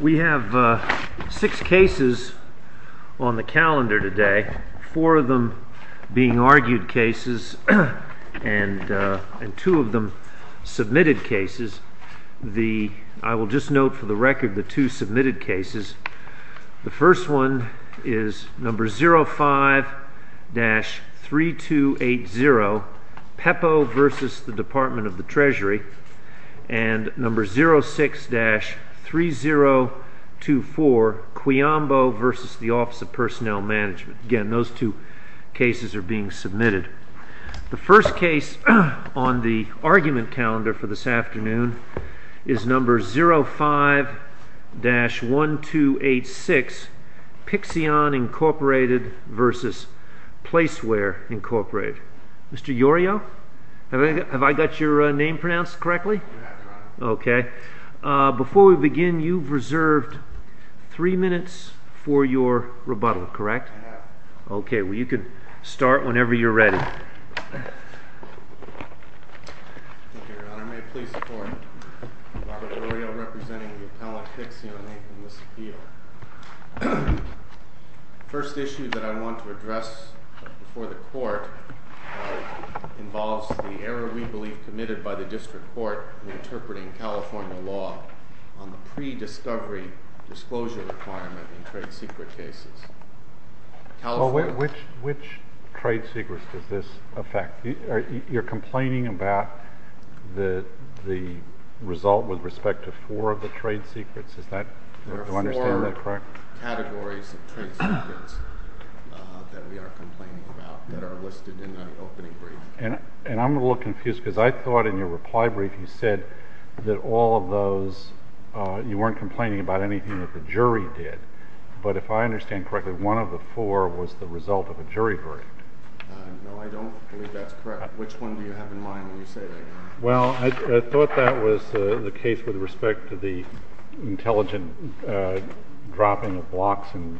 We have six cases on the calendar today, four of them being argued cases and two of them submitted cases. I will just note for the record the two submitted cases. The first one is number 05-3280, PEPO versus the Department of the Treasury. And number 06-3024, Quiambo versus the Office of Personnel Management. Again, those two cases are being submitted. The first case on the argument calendar for this afternoon is number 05-1286, Pixion Incorporated versus Placeware Incorporated. Mr. Yorio, have I got your name pronounced correctly? Yes, Your Honor. Okay. Before we begin, you've reserved three minutes for your rebuttal, correct? I have. Okay, well you can start whenever you're ready. Thank you, Your Honor. May it please the Court, Robert Yorio representing the appellate Pixion Inc. in this appeal. The first issue that I want to address before the Court involves the error we believe committed by the district court in interpreting California law on the pre-discovery disclosure requirement in trade secret cases. Which trade secrets does this affect? You're complaining about the result with respect to four of the trade secrets. There are four categories of trade secrets that we are complaining about that are listed in the opening brief. And I'm a little confused because I thought in your reply brief you said that all of those, you weren't complaining about anything that the jury did. But if I understand correctly, one of the four was the result of a jury brief. No, I don't believe that's correct. Which one do you have in mind when you say that? Well, I thought that was the case with respect to the intelligent dropping of blocks and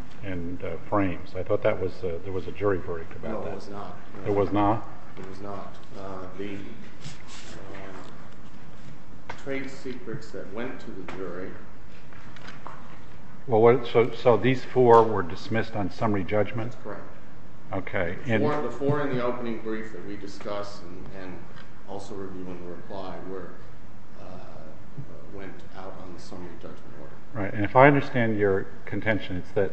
frames. I thought there was a jury verdict about that. No, there was not. There was not? There was not. The trade secrets that went to the jury. So these four were dismissed on summary judgment? That's correct. The four in the opening brief that we discussed and also review in reply went out on the summary judgment order. And if I understand your contention, it's that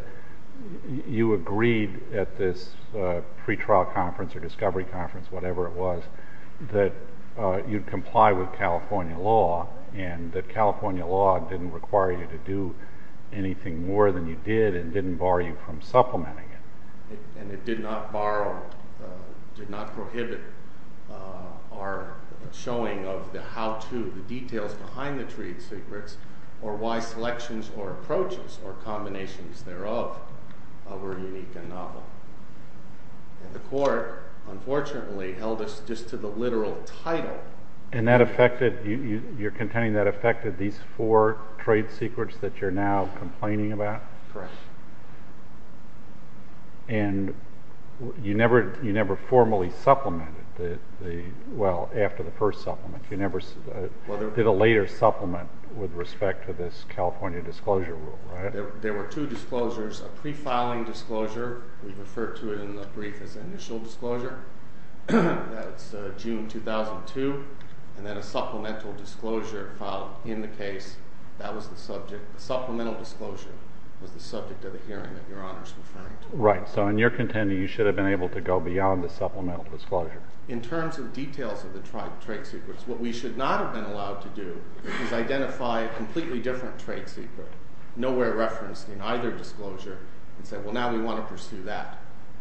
you agreed at this pre-trial conference or discovery conference, whatever it was, that you'd comply with California law and that California law didn't require you to do anything more than you did and didn't bar you from supplementing it. And it did not prohibit our showing of the how-to, the details behind the trade secrets, or why selections or approaches or combinations thereof were unique and novel. And the court, unfortunately, held us just to the literal title. And you're contending that affected these four trade secrets that you're now complaining about? Correct. And you never formally supplemented, well, after the first supplement. You never did a later supplement with respect to this California disclosure rule, right? There were two disclosures, a pre-filing disclosure. We refer to it in the brief as initial disclosure. That's June 2002. And then a supplemental disclosure filed in the case. That was the subject. The supplemental disclosure was the subject of the hearing that Your Honor is referring to. Right. So in your contending, you should have been able to go beyond the supplemental disclosure. In terms of details of the trade secrets, what we should not have been allowed to do is identify a completely different trade secret, nowhere referenced in either disclosure, and say, well, now we want to pursue that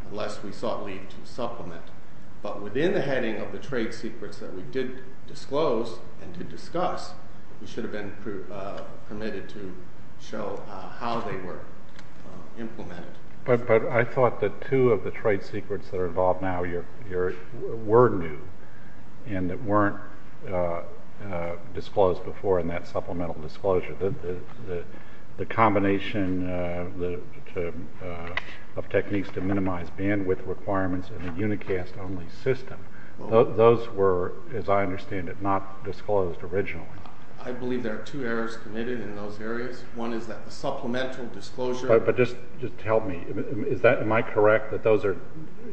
unless we sought leave to supplement. But within the heading of the trade secrets that we did disclose and did discuss, we should have been permitted to show how they were implemented. But I thought that two of the trade secrets that are involved now were new and that weren't disclosed before in that supplemental disclosure. The combination of techniques to minimize bandwidth requirements in the Unicast-only system, those were, as I understand it, not disclosed originally. I believe there are two errors committed in those areas. One is that the supplemental disclosure But just tell me, am I correct that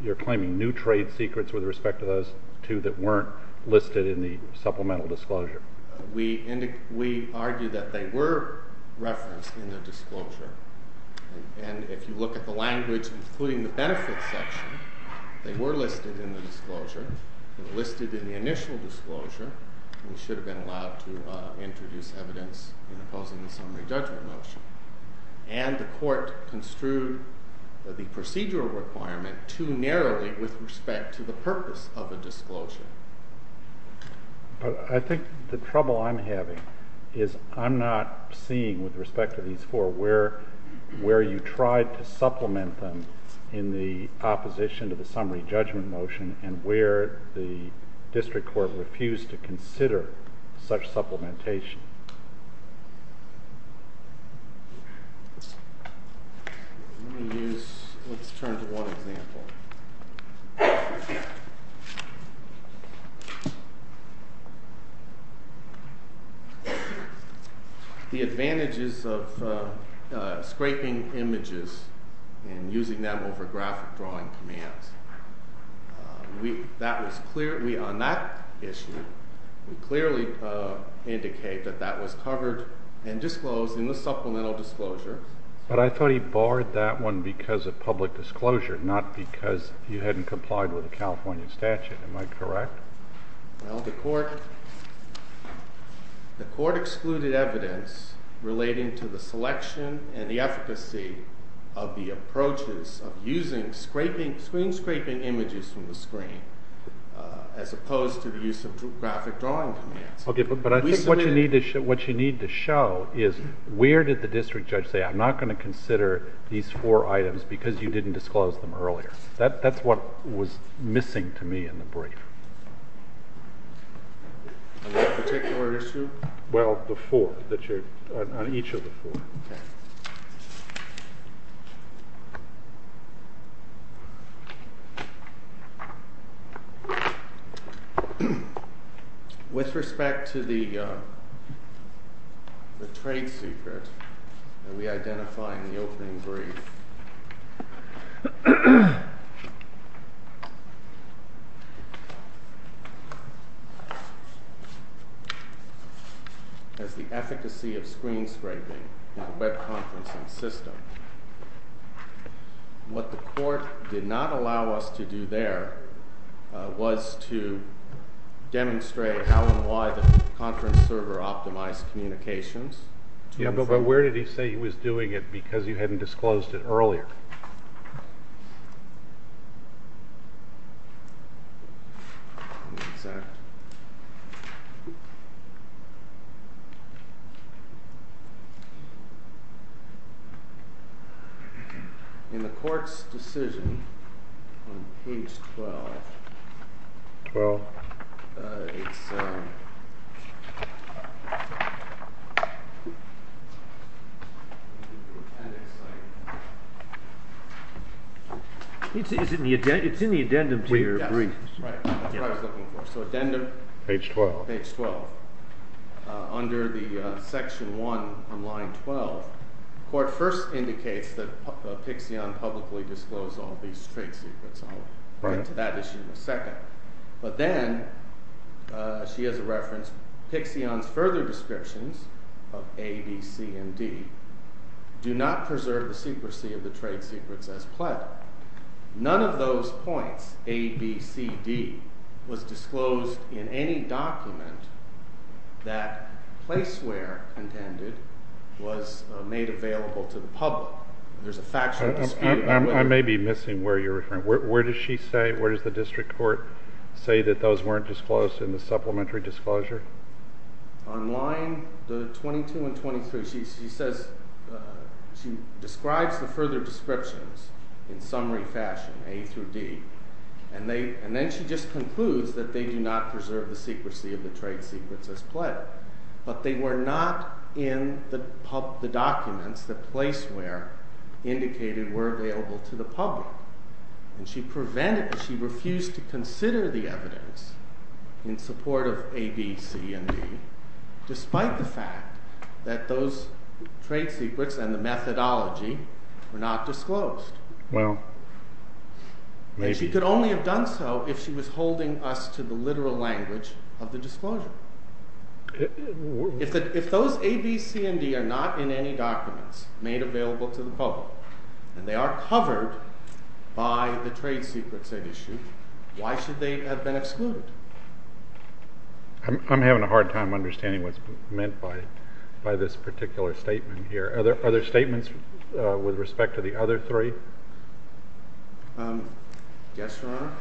you're claiming new trade secrets with respect to those two that weren't listed in the supplemental disclosure? We argue that they were referenced in the disclosure. And if you look at the language, including the benefits section, they were listed in the disclosure. They were listed in the initial disclosure. We should have been allowed to introduce evidence in opposing the summary judgment motion. And the court construed the procedural requirement too narrowly with respect to the purpose of the disclosure. But I think the trouble I'm having is I'm not seeing, with respect to these four, where you tried to supplement them in the opposition to the summary judgment motion and where the district court refused to consider such supplementation. Let's turn to one example. The advantages of scraping images and using them over graphic drawing commands. On that issue, we clearly indicate that that was covered and disclosed in the supplemental disclosure. But I thought he barred that one because of public disclosure, not because you hadn't complied with the California statute. Am I correct? Well, the court excluded evidence relating to the selection and the efficacy of the approaches of using screen scraping images from the screen as opposed to the use of graphic drawing commands. Okay, but I think what you need to show is where did the district judge say, I'm not going to consider these four items because you didn't disclose them earlier. That's what was missing to me in the brief. On that particular issue? Well, the four, on each of the four. Okay. With respect to the trade secret that we identified in the opening brief, as the efficacy of screen scraping in a web conferencing system, what the court did not allow us to do there was to demonstrate how and why the conference server optimized communications. Yeah, but where did he say he was doing it because you hadn't disclosed it earlier? In the court's decision on page 12, 12? It's in the addendum to your brief. Right, that's what I was looking for. So addendum? Page 12. Page 12. Under the section one on line 12, court first indicates that Pixion publicly disclosed all these trade secrets. I'll get to that issue in a second. But then, she has a reference, Pixion's further descriptions of A, B, C, and D do not preserve the secrecy of the trade secrets as pled. None of those points, A, B, C, D, was disclosed in any document that place where intended was made available to the public. There's a factual dispute. I may be missing where you're referring. Where does she say, where does the district court say that those weren't disclosed in the supplementary disclosure? On line 22 and 23, she describes the further descriptions in summary fashion, A through D. And then she just concludes that they do not preserve the secrecy of the trade secrets as pled. But they were not in the documents that place where indicated were available to the public. And she prevented, she refused to consider the evidence in support of A, B, C, and D despite the fact that those trade secrets and the methodology were not disclosed. And she could only have done so if she was holding us to the literal language of the disclosure. If those A, B, C, and D are not in any documents made available to the public and they are covered by the trade secrets at issue, why should they have been excluded? I'm having a hard time understanding what's meant by this particular statement here. Are there statements with respect to the other three? Yes, Your Honor.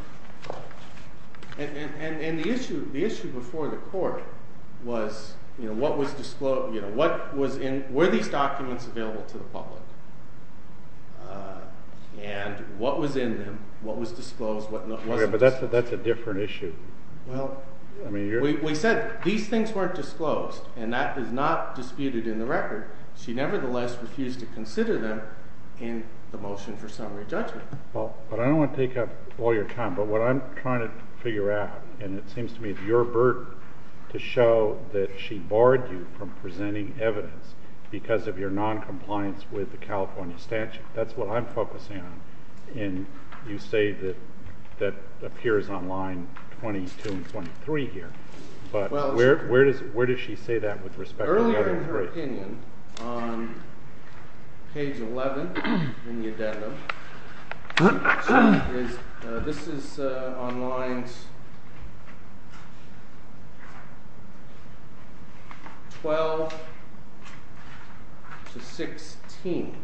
And the issue before the court was, were these documents available to the public? And what was in them? What was disclosed? But that's a different issue. We said these things weren't disclosed, and that is not disputed in the record. She nevertheless refused to consider them in the motion for summary judgment. But I don't want to take up all your time, but what I'm trying to figure out, and it seems to me it's your burden to show that she barred you from presenting evidence because of your noncompliance with the California statute. That's what I'm focusing on. And you say that that appears on line 22 and 23 here. But where does she say that with respect to the other three? My opinion on page 11 in the addendum is this is on lines 12 to 16.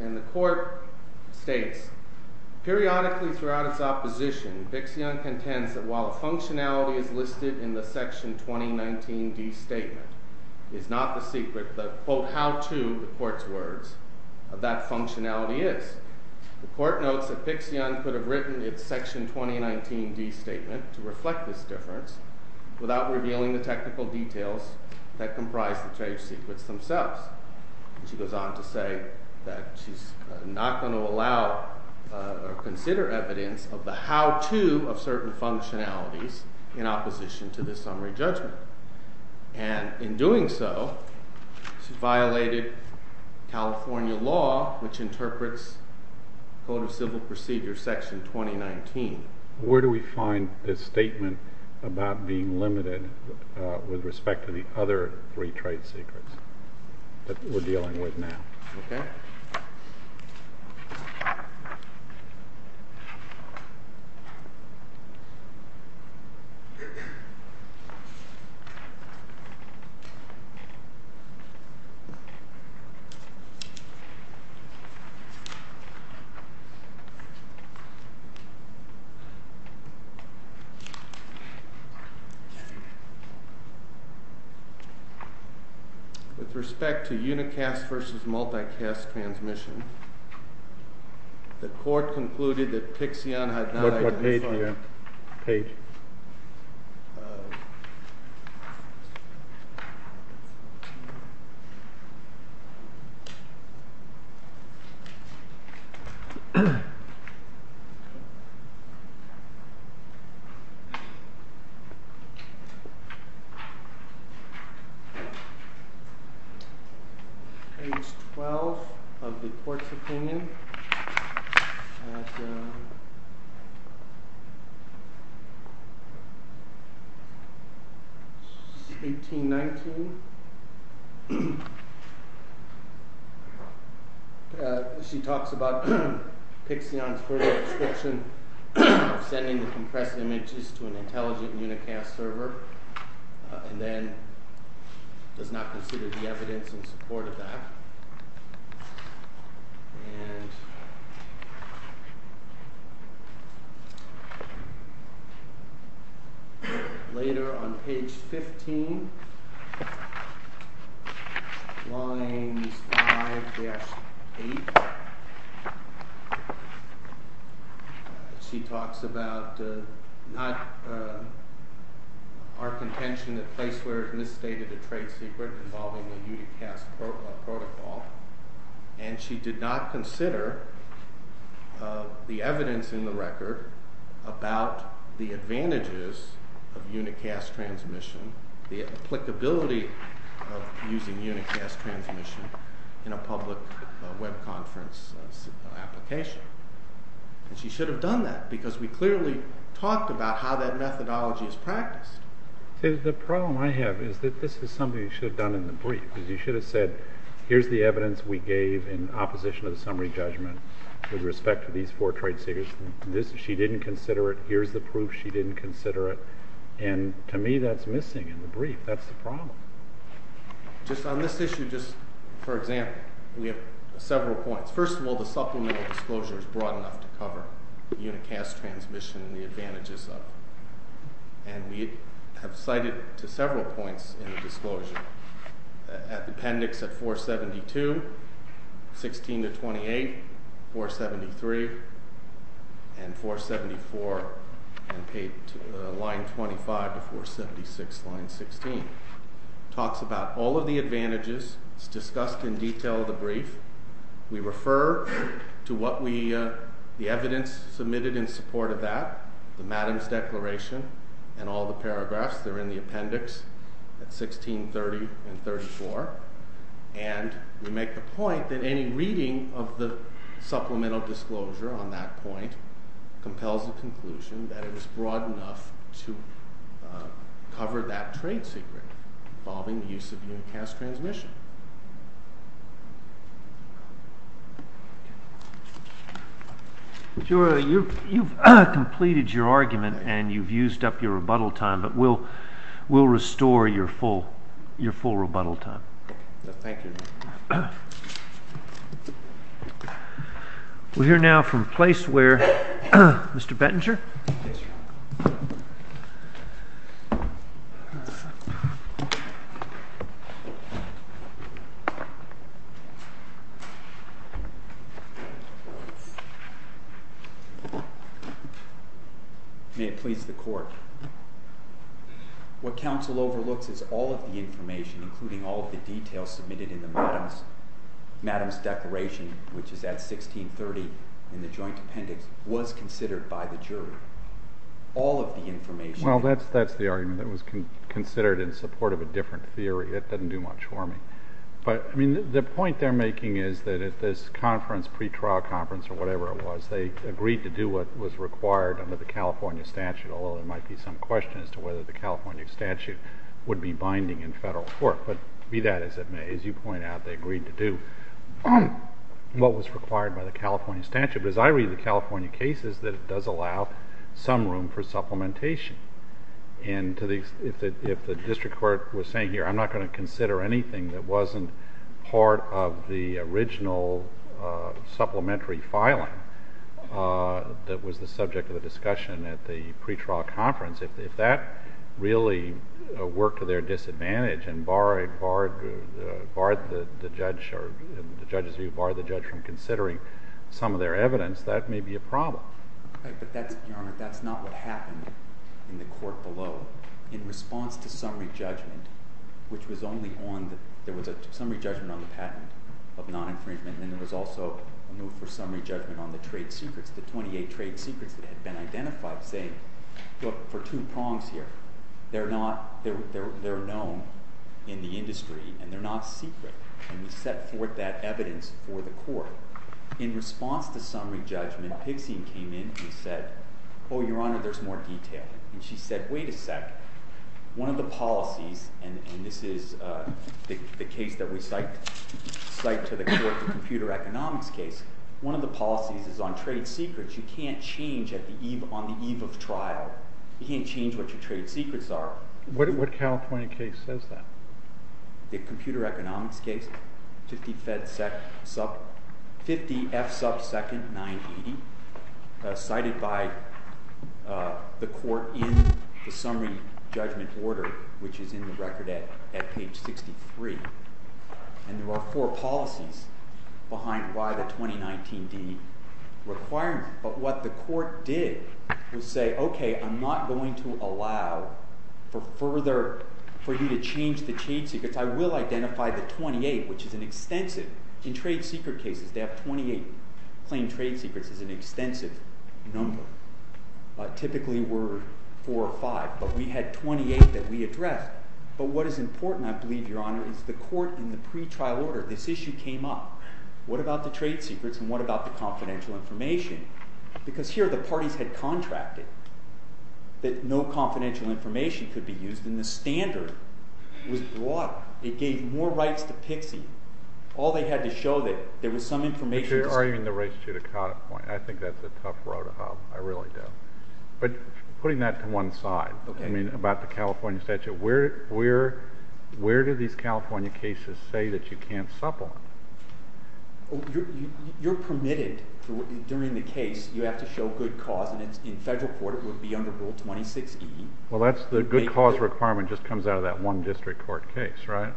And the court states, Periodically throughout its opposition, Pixion contends that while the functionality is listed in the section 2019D statement, it's not the secret that, quote, how to, the court's words, of that functionality is. The court notes that Pixion could have written its section 2019D statement to reflect this difference without revealing the technical details that comprise the trade secrets themselves. She goes on to say that she's not going to allow or consider evidence of the how-to of certain functionalities in opposition to this summary judgment. And in doing so, she violated California law, which interprets Code of Civil Procedure section 2019. Where do we find this statement about being limited with respect to the other three trade secrets that we're dealing with now? With respect to unicast versus multicast transmission, the court concluded that Pixion had not identified Page 12 of the court's opinion. She talks about Pixion's further restriction of sending the compressed images to an intelligent unicast server, and then does not consider the evidence in support of that. And later on Page 15, lines 5-8, she talks about not our contention that Placeware has misstated a trade secret involving the unicast protocol, and she did not consider the evidence in the record about the advantages of unicast transmission, the applicability of using unicast transmission in a public web conference application. And she should have done that, because we clearly talked about how that methodology is practiced. The problem I have is that this is something you should have done in the brief. You should have said, here's the evidence we gave in opposition of the summary judgment with respect to these four trade secrets. She didn't consider it. Here's the proof. She didn't consider it. And to me, that's missing in the brief. That's the problem. Just on this issue, just for example, we have several points. First of all, the supplemental disclosure is broad enough to cover unicast transmission and the advantages of it. And we have cited several points in the disclosure. Appendix 472, 16-28, 473, and 474, and line 25 to 476, line 16, talks about all of the advantages. It's discussed in detail in the brief. We refer to what the evidence submitted in support of that, the Madam's Declaration, and all the paragraphs. They're in the appendix at 16-30 and 34. And we make the point that any reading of the supplemental disclosure on that point compels the conclusion that it was broad enough to cover that trade secret involving the use of unicast transmission. You've completed your argument and you've used up your rebuttal time, but we'll restore your full rebuttal time. Thank you. We'll hear now from a place where Mr. Bettinger. Yes, Your Honor. May it please the Court. What counsel overlooks is all of the information, including all of the details submitted in the Madam's Declaration, which is at 16-30 in the joint appendix, was considered by the jury. All of the information. Well, that's the argument that was considered in support of a different theory. It doesn't do much for me. But the point they're making is that at this conference, pretrial conference or whatever it was, they agreed to do what was required under the California statute, although there might be some question as to whether the California statute would be binding in federal court. But be that as it may, as you point out, they agreed to do. What was required by the California statute. But as I read the California cases, that it does allow some room for supplementation. And if the district court was saying here, I'm not going to consider anything that wasn't part of the original supplementary filing that was the subject of the discussion at the pretrial conference, if that really worked to their disadvantage and barred the judge from considering some of their evidence, that may be a problem. But, Your Honor, that's not what happened in the court below. In response to summary judgment, which was only on, there was a summary judgment on the patent of non-infringement and then there was also a move for summary judgment on the trade secrets, the 28 trade secrets that had been identified saying, look, for two prongs here, they're known in the industry and they're not secret. And we set forth that evidence for the court. In response to summary judgment, Pixian came in and said, oh, Your Honor, there's more detail. And she said, wait a sec, one of the policies, and this is the case that we cite to the court, the computer economics case, one of the policies is on trade secrets, you can't change on the eve of trial, you can't change what your trade secrets are. What California case says that? The computer economics case, 50F sub second 980, cited by the court in the summary judgment order, which is in the record at page 63. And there are four policies behind why the 2019D requirement. But what the court did was say, okay, I'm not going to allow for further, for you to change the trade secrets, I will identify the 28, which is an extensive, in trade secret cases, they have 28 claimed trade secrets is an extensive number. Typically we're four or five, but we had 28 that we addressed. But what is important, I believe, Your Honor, is the court in the pretrial order, this issue came up. What about the trade secrets and what about the confidential information? Because here the parties had contracted that no confidential information could be used, and the standard was broad. It gave more rights to pixie. All they had to show that there was some information. But you're arguing the race to the cutoff point. I think that's a tough road to hop. I really do. But putting that to one side, I mean, about the California statute, where do these California cases say that you can't supplement? You're permitted during the case, you have to show good cause, and in federal court it would be under Rule 26E. Well, that's the good cause requirement just comes out of that one district court case, right?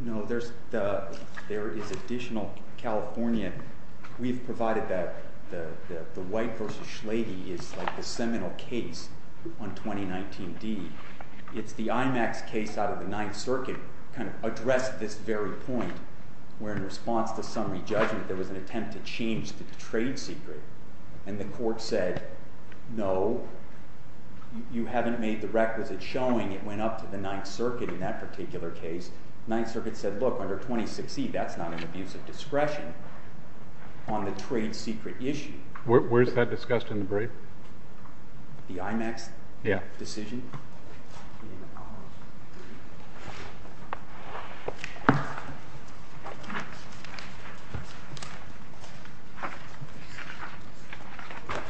No, there is additional California. We've provided that. The White v. Schlade is like the seminal case on 2019D. It's the IMAX case out of the Ninth Circuit, kind of addressed this very point, where in response to summary judgment there was an attempt to change the trade secret, and the court said, no, you haven't made the requisite showing. It went up to the Ninth Circuit in that particular case. The Ninth Circuit said, look, under 26E, that's not an abuse of discretion on the trade secret issue. Where is that discussed in the brief? The IMAX decision? Yeah.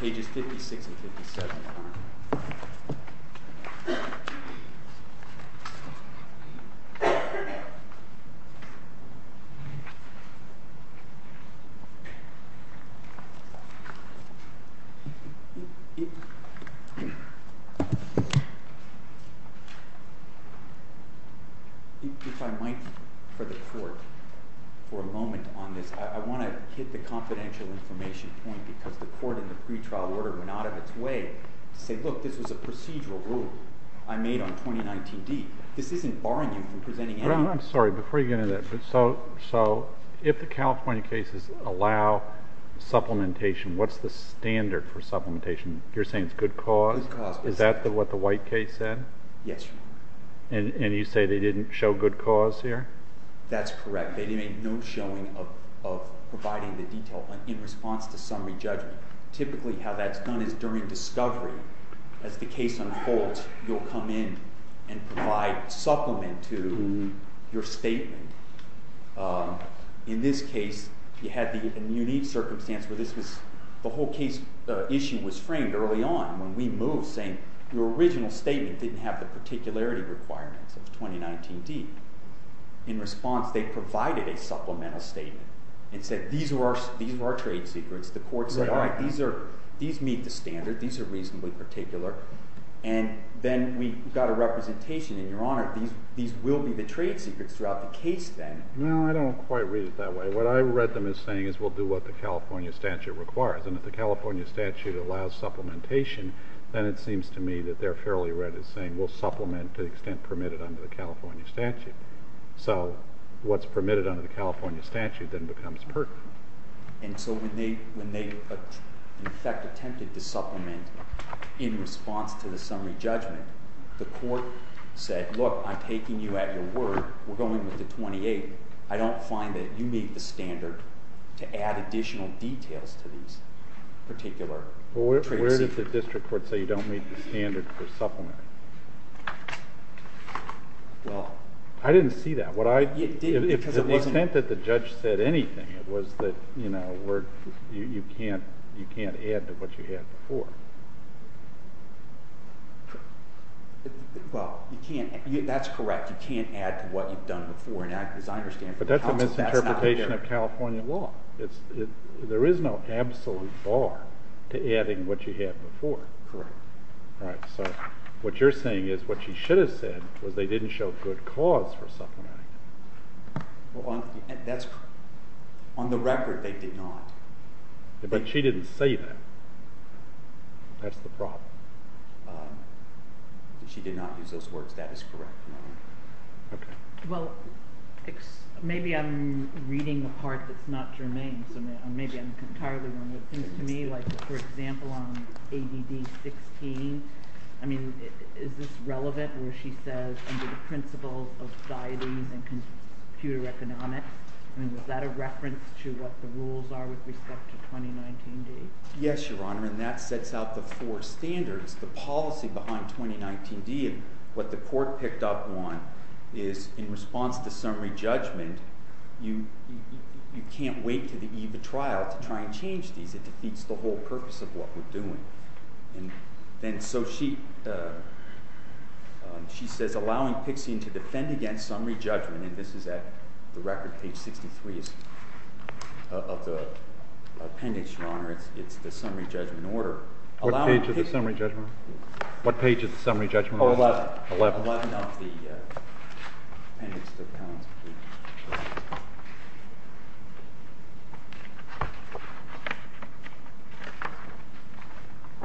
Pages 56 and 57. If I might for the court for a moment on this, I want to hit the confidential information point because the court in the pretrial order went out of its way to say, look, this was a procedural rule I made on 2019D. This isn't barring you from presenting anything. I'm sorry, before you get into that, so if the California cases allow supplementation, what's the standard for supplementation? You're saying it's good cause? Good cause. Is that what the White case said? Yes. And you say they didn't show good cause here? That's correct. They made no showing of providing the detail in response to summary judgment. Typically how that's done is during discovery. As the case unfolds, you'll come in and provide supplement to your statement. In this case, you had the unique circumstance where the whole case issue was framed early on when we moved, saying your original statement didn't have the particularity requirements of 2019D. In response, they provided a supplemental statement and said these were our trade secrets. The court said, all right, these meet the standard. These are reasonably particular. And then we got a representation in your honor, these will be the trade secrets throughout the case then. Well, I don't quite read it that way. What I read them as saying is we'll do what the California statute requires. And if the California statute allows supplementation, then it seems to me that they're fairly read as saying we'll supplement to the extent permitted under the California statute. So what's permitted under the California statute then becomes pertinent. And so when they in effect attempted to supplement in response to the summary judgment, the court said, look, I'm taking you at your word. We're going with the 28. I don't find that you meet the standard to add additional details to these particular trade secrets. Where did the district court say you don't meet the standard for supplementing? I didn't see that. To the extent that the judge said anything, it was that you can't add to what you had before. Well, that's correct. You can't add to what you've done before. But that's a misinterpretation of California law. There is no absolute bar to adding what you had before. Correct. Right. So what you're saying is what she should have said was they didn't show good cause for supplementing. That's correct. On the record, they did not. But she didn't say that. That's the problem. She did not use those words. That is correct. OK. Well, maybe I'm reading a part that's not germane. So maybe I'm entirely wrong. It seems to me like, for example, on ADD 16, I mean, is this relevant where she says under the principles of guidance and computer economics? I mean, is that a reference to what the rules are with respect to 2019D? Yes, Your Honor. And that sets out the four standards. The policy behind 2019D and what the court picked up on is in response to summary judgment, you can't wait to the EVA trial to try and change these. It defeats the whole purpose of what we're doing. And then so she says, allowing Pixian to defend against summary judgment, and this is at the record, page 63 of the appendix, Your Honor, it's the summary judgment order. What page is the summary judgment order? What page is the summary judgment order? 11. 11. 11 of the appendix to the account.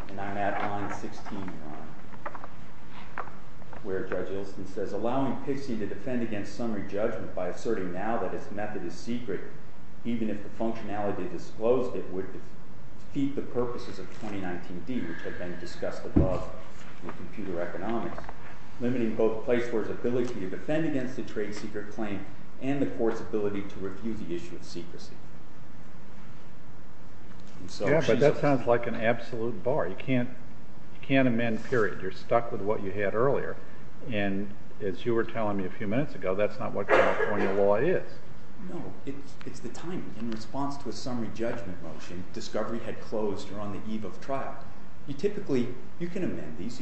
And I'm at line 16, Your Honor, where Judge Ilsen says, allowing Pixian to defend against summary judgment by asserting now that its method is secret, even if the functionality disclosed it would defeat the purposes of 2019D, which had been discussed above in computer economics, limiting both Placeworth's ability to defend against a trade secret claim and the court's ability to review the issue of secrecy. But that sounds like an absolute bar. You can't amend, period. You're stuck with what you had earlier. And as you were telling me a few minutes ago, that's not what California law is. No. It's the timing. In response to a summary judgment motion, discovery had closed or on the eve of trial. You can amend these.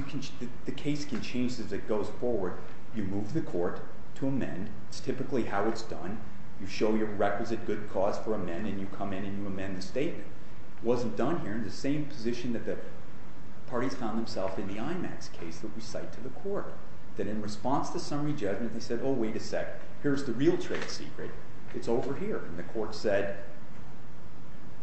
The case can change as it goes forward. You move the court to amend. It's typically how it's done. You show your requisite good cause for amend, and you come in and you amend the statement. It wasn't done here in the same position that the parties found themselves in the IMAX case that we cite to the court. That in response to summary judgment, they said, oh, wait a second. Here's the real trade secret. It's over here. And the court said,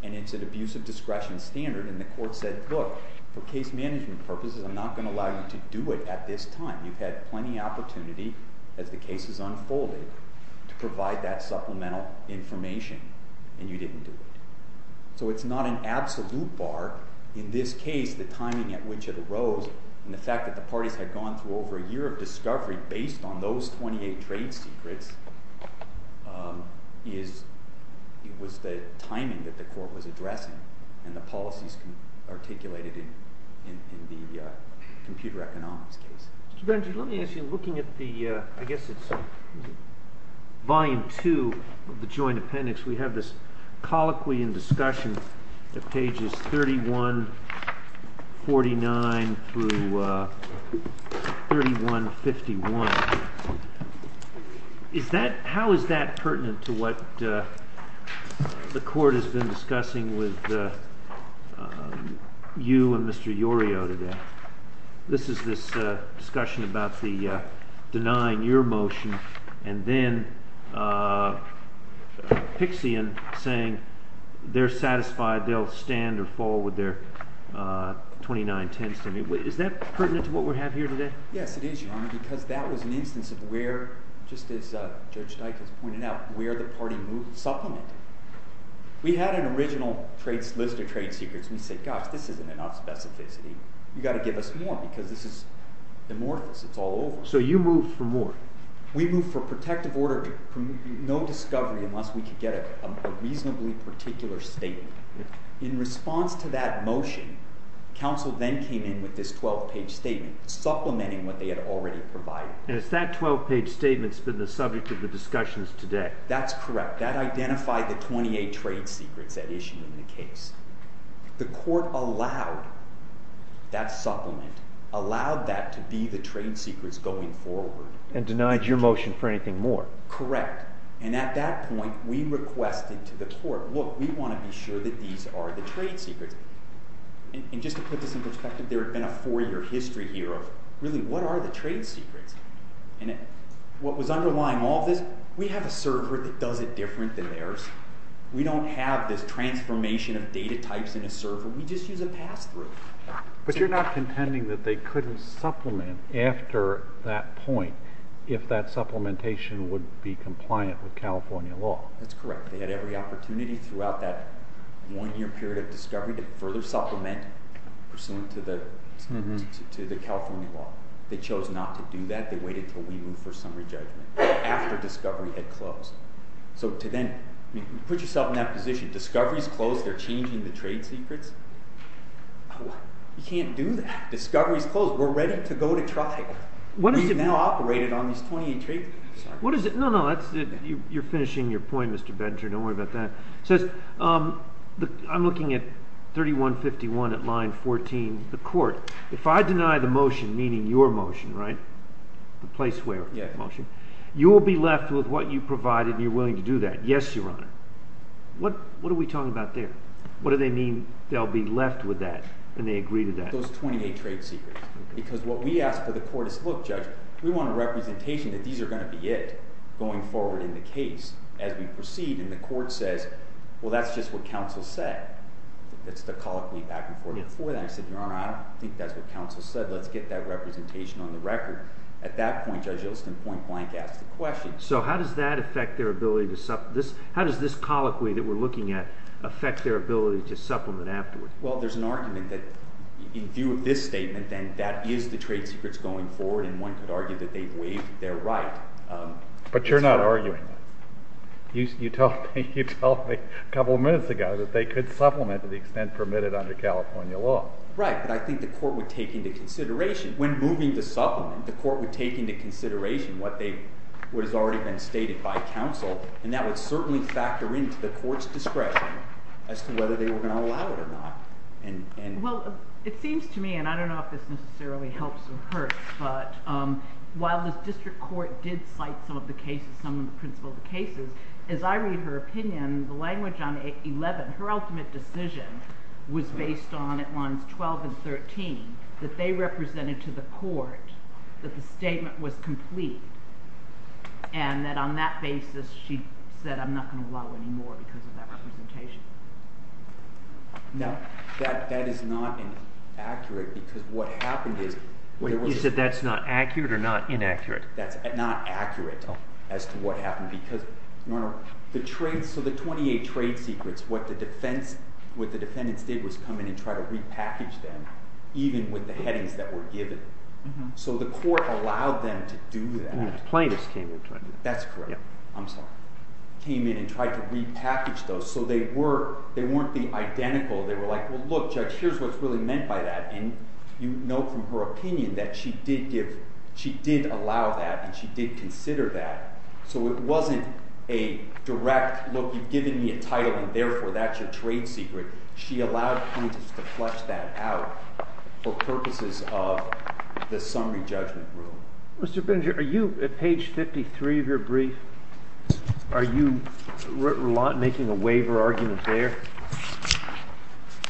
and it's an abuse of discretion standard, and the court said, look, for case management purposes, I'm not going to allow you to do it at this time. You've had plenty of opportunity, as the case has unfolded, to provide that supplemental information. And you didn't do it. So it's not an absolute bar. In this case, the timing at which it arose, and the fact that the parties had gone through over a year of discovery based on those 28 trade secrets, it was the timing that the court was addressing and the policies articulated in the computer economics case. Mr. Benjamin, let me ask you, looking at the, I guess it's volume two of the joint appendix, we have this colloquy in discussion at pages 3149 through 3151. How is that pertinent to what the court has been discussing with you and Mr. Iorio today? This is this discussion about denying your motion, and then Pixian saying they're satisfied they'll stand or fall with their 2910s. Is that pertinent to what we have here today? Yes, it is, Your Honor, because that was an instance of where, just as Judge Dykes has pointed out, where the party supplemented. We had an original list of trade secrets. We said, gosh, this isn't enough specificity. You've got to give us more because this is amorphous. It's all over. So you moved for more. We moved for protective order, no discovery unless we could get a reasonably particular statement. In response to that motion, counsel then came in with this 12-page statement supplementing what they had already provided. And it's that 12-page statement that's been the subject of the discussions today. That's correct. That identified the 28 trade secrets that issue in the case. The court allowed that supplement, allowed that to be the trade secrets going forward. And denied your motion for anything more. Correct. And at that point, we requested to the court, look, we want to be sure that these are the trade secrets. And just to put this in perspective, there had been a four-year history here of, really, what are the trade secrets? And what was underlying all this, and we have a server that does it different than theirs. We don't have this transformation of data types in a server. We just use a pass-through. But you're not contending that they couldn't supplement after that point if that supplementation would be compliant with California law. That's correct. They had every opportunity throughout that one-year period of discovery to further supplement pursuant to the California law. They chose not to do that. They waited until we moved for summary judgment. After discovery had closed. So to then put yourself in that position. Discovery's closed. They're changing the trade secrets. You can't do that. Discovery's closed. We're ready to go to trial. We've now operated on these 28 trade secrets. What is it? No, no, you're finishing your point, Mr. Benter. Don't worry about that. It says, I'm looking at 3151 at line 14, the court. If I deny the motion, meaning your motion, right? The place where? Yeah. You will be left with what you provided, and you're willing to do that. Yes, Your Honor. What are we talking about there? What do they mean they'll be left with that, and they agree to that? Those 28 trade secrets. Because what we ask for the court is, look, Judge, we want a representation that these are going to be it going forward in the case as we proceed. And the court says, well, that's just what counsel said. It's the colloquy back and forth before that. I said, Your Honor, I don't think that's what counsel said. Let's get that representation on the record. At that point, Judge Yeltsin point-blank asked the question. So how does that affect their ability to supplement? How does this colloquy that we're looking at affect their ability to supplement afterwards? Well, there's an argument that in view of this statement, then that is the trade secrets going forward. And one could argue that they've waived their right. But you're not arguing that. You told me a couple of minutes ago that they could supplement to the extent permitted under California law. Right. But I think the court would take into consideration, when moving to supplement, the court would take into consideration what has already been stated by counsel. And that would certainly factor into the court's discretion as to whether they were going to allow it or not. Well, it seems to me, and I don't know if this necessarily helps or hurts, but while this district court did cite some of the cases, some of the principles of the cases, as I read her opinion, and the language on 11, her ultimate decision was based on at lines 12 and 13, that they represented to the court that the statement was complete. And that on that basis, she said, I'm not going to allow anymore because of that representation. No. That is not accurate because what happened is. Wait, you said that's not accurate or not inaccurate? That's not accurate as to what happened because, Your Honor, so the 28 trade secrets, what the defendants did was come in and try to repackage them, even with the headings that were given. So the court allowed them to do that. Plaintiffs came in. That's correct. I'm sorry. Came in and tried to repackage those. So they weren't the identical. They were like, well, look, Judge, here's what's really meant by that. And you know from her opinion that she did allow that and she did consider that. So it wasn't a direct look. You've given me a title. And therefore, that's your trade secret. She allowed plaintiffs to flesh that out for purposes of the summary judgment rule. Mr. Benger, are you at page 53 of your brief, are you making a waiver argument there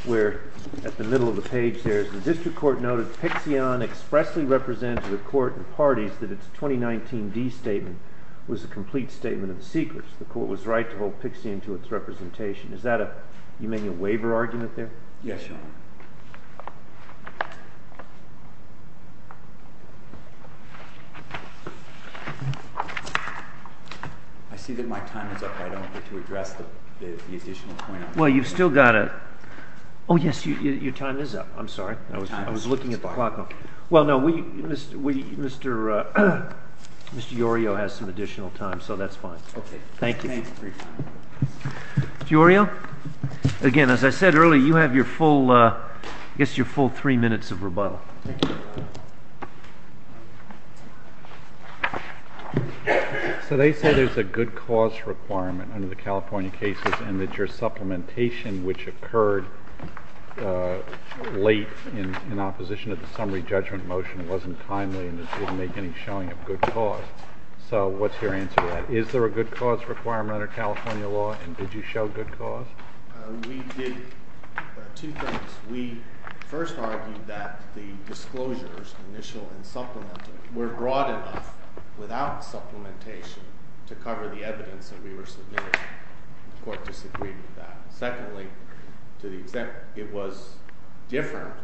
where at the middle of the page there is the district court noted Pixion expressly represented the court and parties that its 2019D statement was a complete statement of the secrets. The court was right to hold Pixion to its representation. Is that a you making a waiver argument there? Yes, Your Honor. I see that my time is up. I don't get to address the additional point. Well, you've still got to. Oh, yes, your time is up. I'm sorry. I was looking at the clock. Well, no, Mr. Yorio has some additional time, so that's fine. Okay. Mr. Yorio, again, as I said earlier, you have your full three minutes of rebuttal. Thank you. So they say there's a good cause requirement under the California cases and that your supplementation, which occurred late in opposition of the summary judgment motion, wasn't timely and didn't make any showing of good cause. So what's your answer to that? Is there a good cause requirement under California law, and did you show good cause? We did two things. We first argued that the disclosures, initial and supplemental, were broad enough without supplementation to cover the evidence that we were submitting. The court disagreed with that. Secondly, to the extent it was different,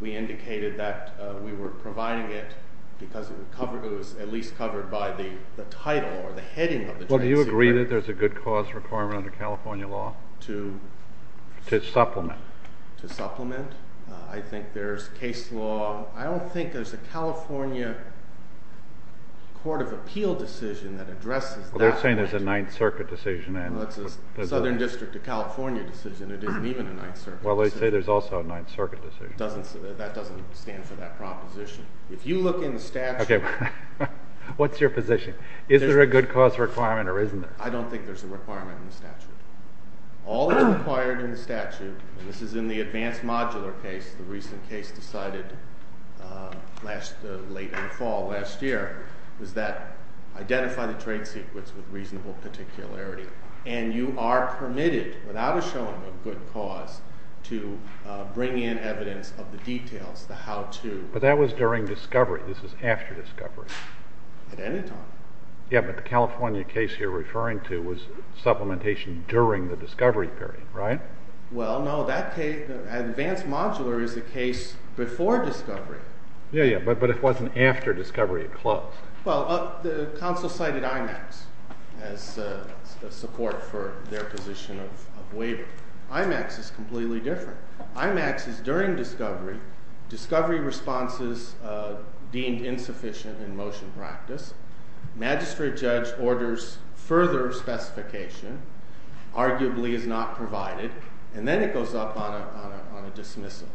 we indicated that we were providing it because it was at least covered by the title or the heading. Well, do you agree that there's a good cause requirement under California law to supplement? To supplement? I think there's case law. I don't think there's a California court of appeal decision that addresses that. They're saying there's a Ninth Circuit decision. It's a Southern District of California decision. It isn't even a Ninth Circuit decision. Well, they say there's also a Ninth Circuit decision. That doesn't stand for that proposition. If you look in the statute. What's your position? Is there a good cause requirement or isn't there? I don't think there's a requirement in the statute. All that's required in the statute, and this is in the advanced modular case, the recent case decided late in the fall last year, was that identify the trade secrets with reasonable particularity. And you are permitted, without a showing of good cause, to bring in evidence of the details, the how-to. But that was during discovery. This is after discovery. At any time. Yeah, but the California case you're referring to was supplementation during the discovery period, right? Well, no. Advanced modular is a case before discovery. Yeah, yeah. But it wasn't after discovery. It closed. Well, the council cited IMAX as a support for their position of waiver. IMAX is completely different. IMAX is during discovery. Discovery responses deemed insufficient in motion practice. Magistrate judge orders further specification. Arguably is not provided. And then it goes up on a dismissal.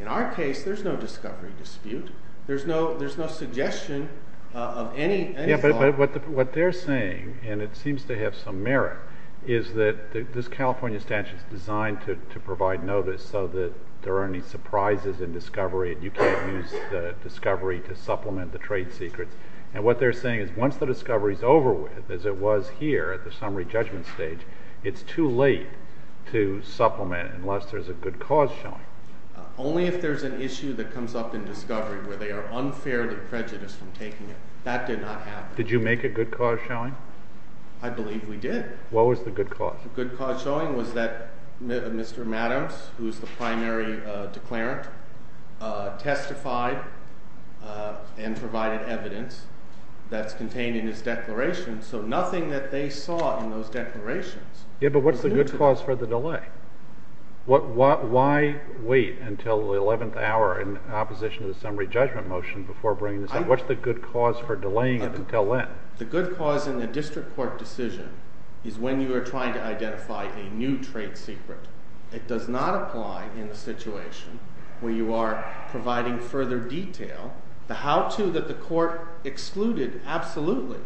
In our case, there's no discovery dispute. There's no suggestion of any kind. Yeah, but what they're saying, and it seems to have some merit, is that this California statute is designed to provide notice so that there aren't any surprises in discovery and you can't use the discovery to supplement the trade secrets. And what they're saying is once the discovery is over with, as it was here at the summary judgment stage, it's too late to supplement unless there's a good cause showing. Only if there's an issue that comes up in discovery where they are unfairly prejudiced from taking it. That did not happen. Did you make a good cause showing? I believe we did. What was the good cause? The good cause showing was that Mr. Maddams, who is the primary declarant, testified and provided evidence that's contained in his declaration. So nothing that they saw in those declarations. Yeah, but what's the good cause for the delay? Why wait until the 11th hour in opposition to the summary judgment motion before bringing this up? What's the good cause for delaying it until then? The good cause in the district court decision is when you are trying to identify a new trade secret. It does not apply in the situation where you are providing further detail, the how-to that the court excluded absolutely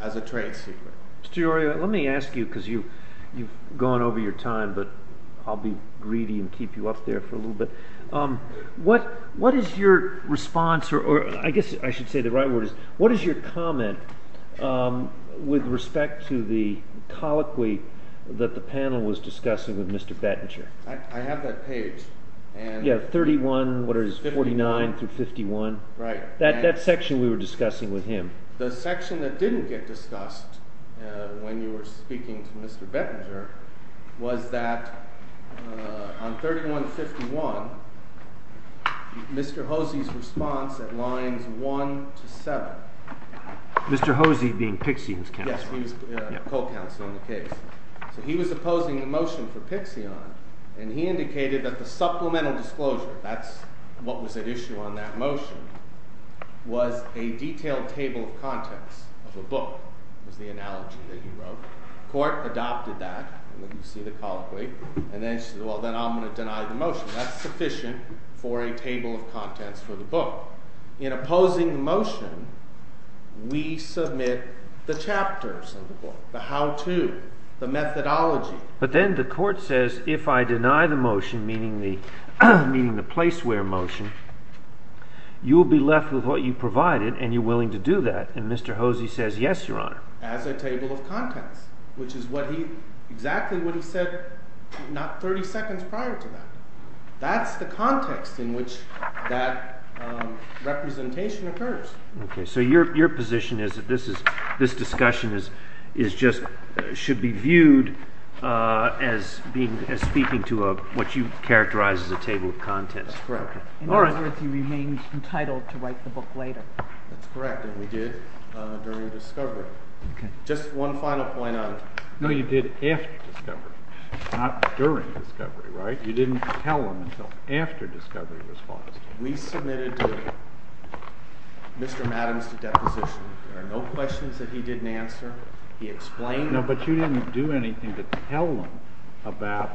as a trade secret. Mr. Iorio, let me ask you because you've gone over your time, but I'll be greedy and keep you up there for a little bit. What is your response, or I guess I should say the right word is, what is your comment with respect to the colloquy that the panel was discussing with Mr. Bettinger? I have that page. Yeah, 31, what is it, 49 through 51? That section we were discussing with him. The section that didn't get discussed when you were speaking to Mr. Bettinger was that on 3151, Mr. Hosey's response at lines 1 to 7. Mr. Hosey being Pixian's counsel. Yes, he was co-counsel in the case. So he was opposing the motion for Pixian, and he indicated that the supplemental disclosure, that's what was at issue on that motion, was a detailed table of contents of a book, was the analogy that he wrote. The court adopted that, and then you see the colloquy, and then he says, well, then I'm going to deny the motion. That's sufficient for a table of contents for the book. In opposing the motion, we submit the chapters of the book, the how-to, the methodology. But then the court says, if I deny the motion, meaning the place where motion, you will be left with what you provided, and you're willing to do that. And Mr. Hosey says, yes, Your Honor. As a table of contents, which is exactly what he said not 30 seconds prior to that. That's the context in which that representation occurs. Okay, so your position is that this discussion should be viewed as speaking to what you characterize as a table of contents. That's correct. In other words, he remains entitled to write the book later. That's correct, and we did during discovery. Just one final point on it. No, you did after discovery, not during discovery, right? You didn't tell him until after discovery was paused. We submitted Mr. Adams to deposition. There are no questions that he didn't answer. He explained. No, but you didn't do anything to tell him about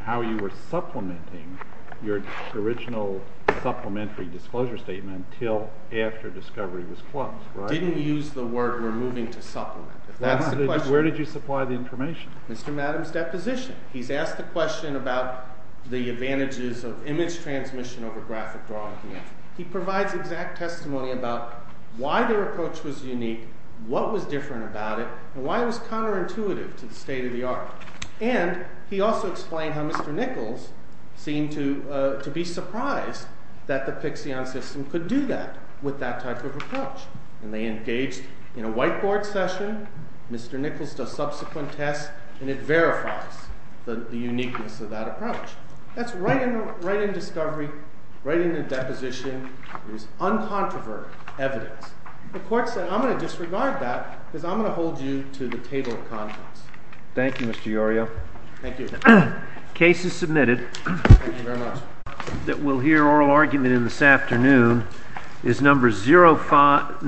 how you were supplementing your original supplementary disclosure statement until after discovery was paused, right? Didn't use the word we're moving to supplement. If that's the question. Where did you supply the information? Mr. Adams' deposition. He's asked the question about the advantages of image transmission over graphic drawing. He provides exact testimony about why their approach was unique, what was different about it, and why it was counterintuitive to the state of the art. And he also explained how Mr. Nichols seemed to be surprised that the Pixion system could do that with that type of approach. And they engaged in a whiteboard session. Mr. Nichols does subsequent tests, and it verifies the uniqueness of that approach. That's right in discovery, right in the deposition. It was uncontroverted evidence. The court said, I'm going to disregard that because I'm going to hold you to the table of contents. Thank you, Mr. Iorio. Thank you. The case is submitted. Thank you very much. That we'll hear oral argument in this afternoon is number 05.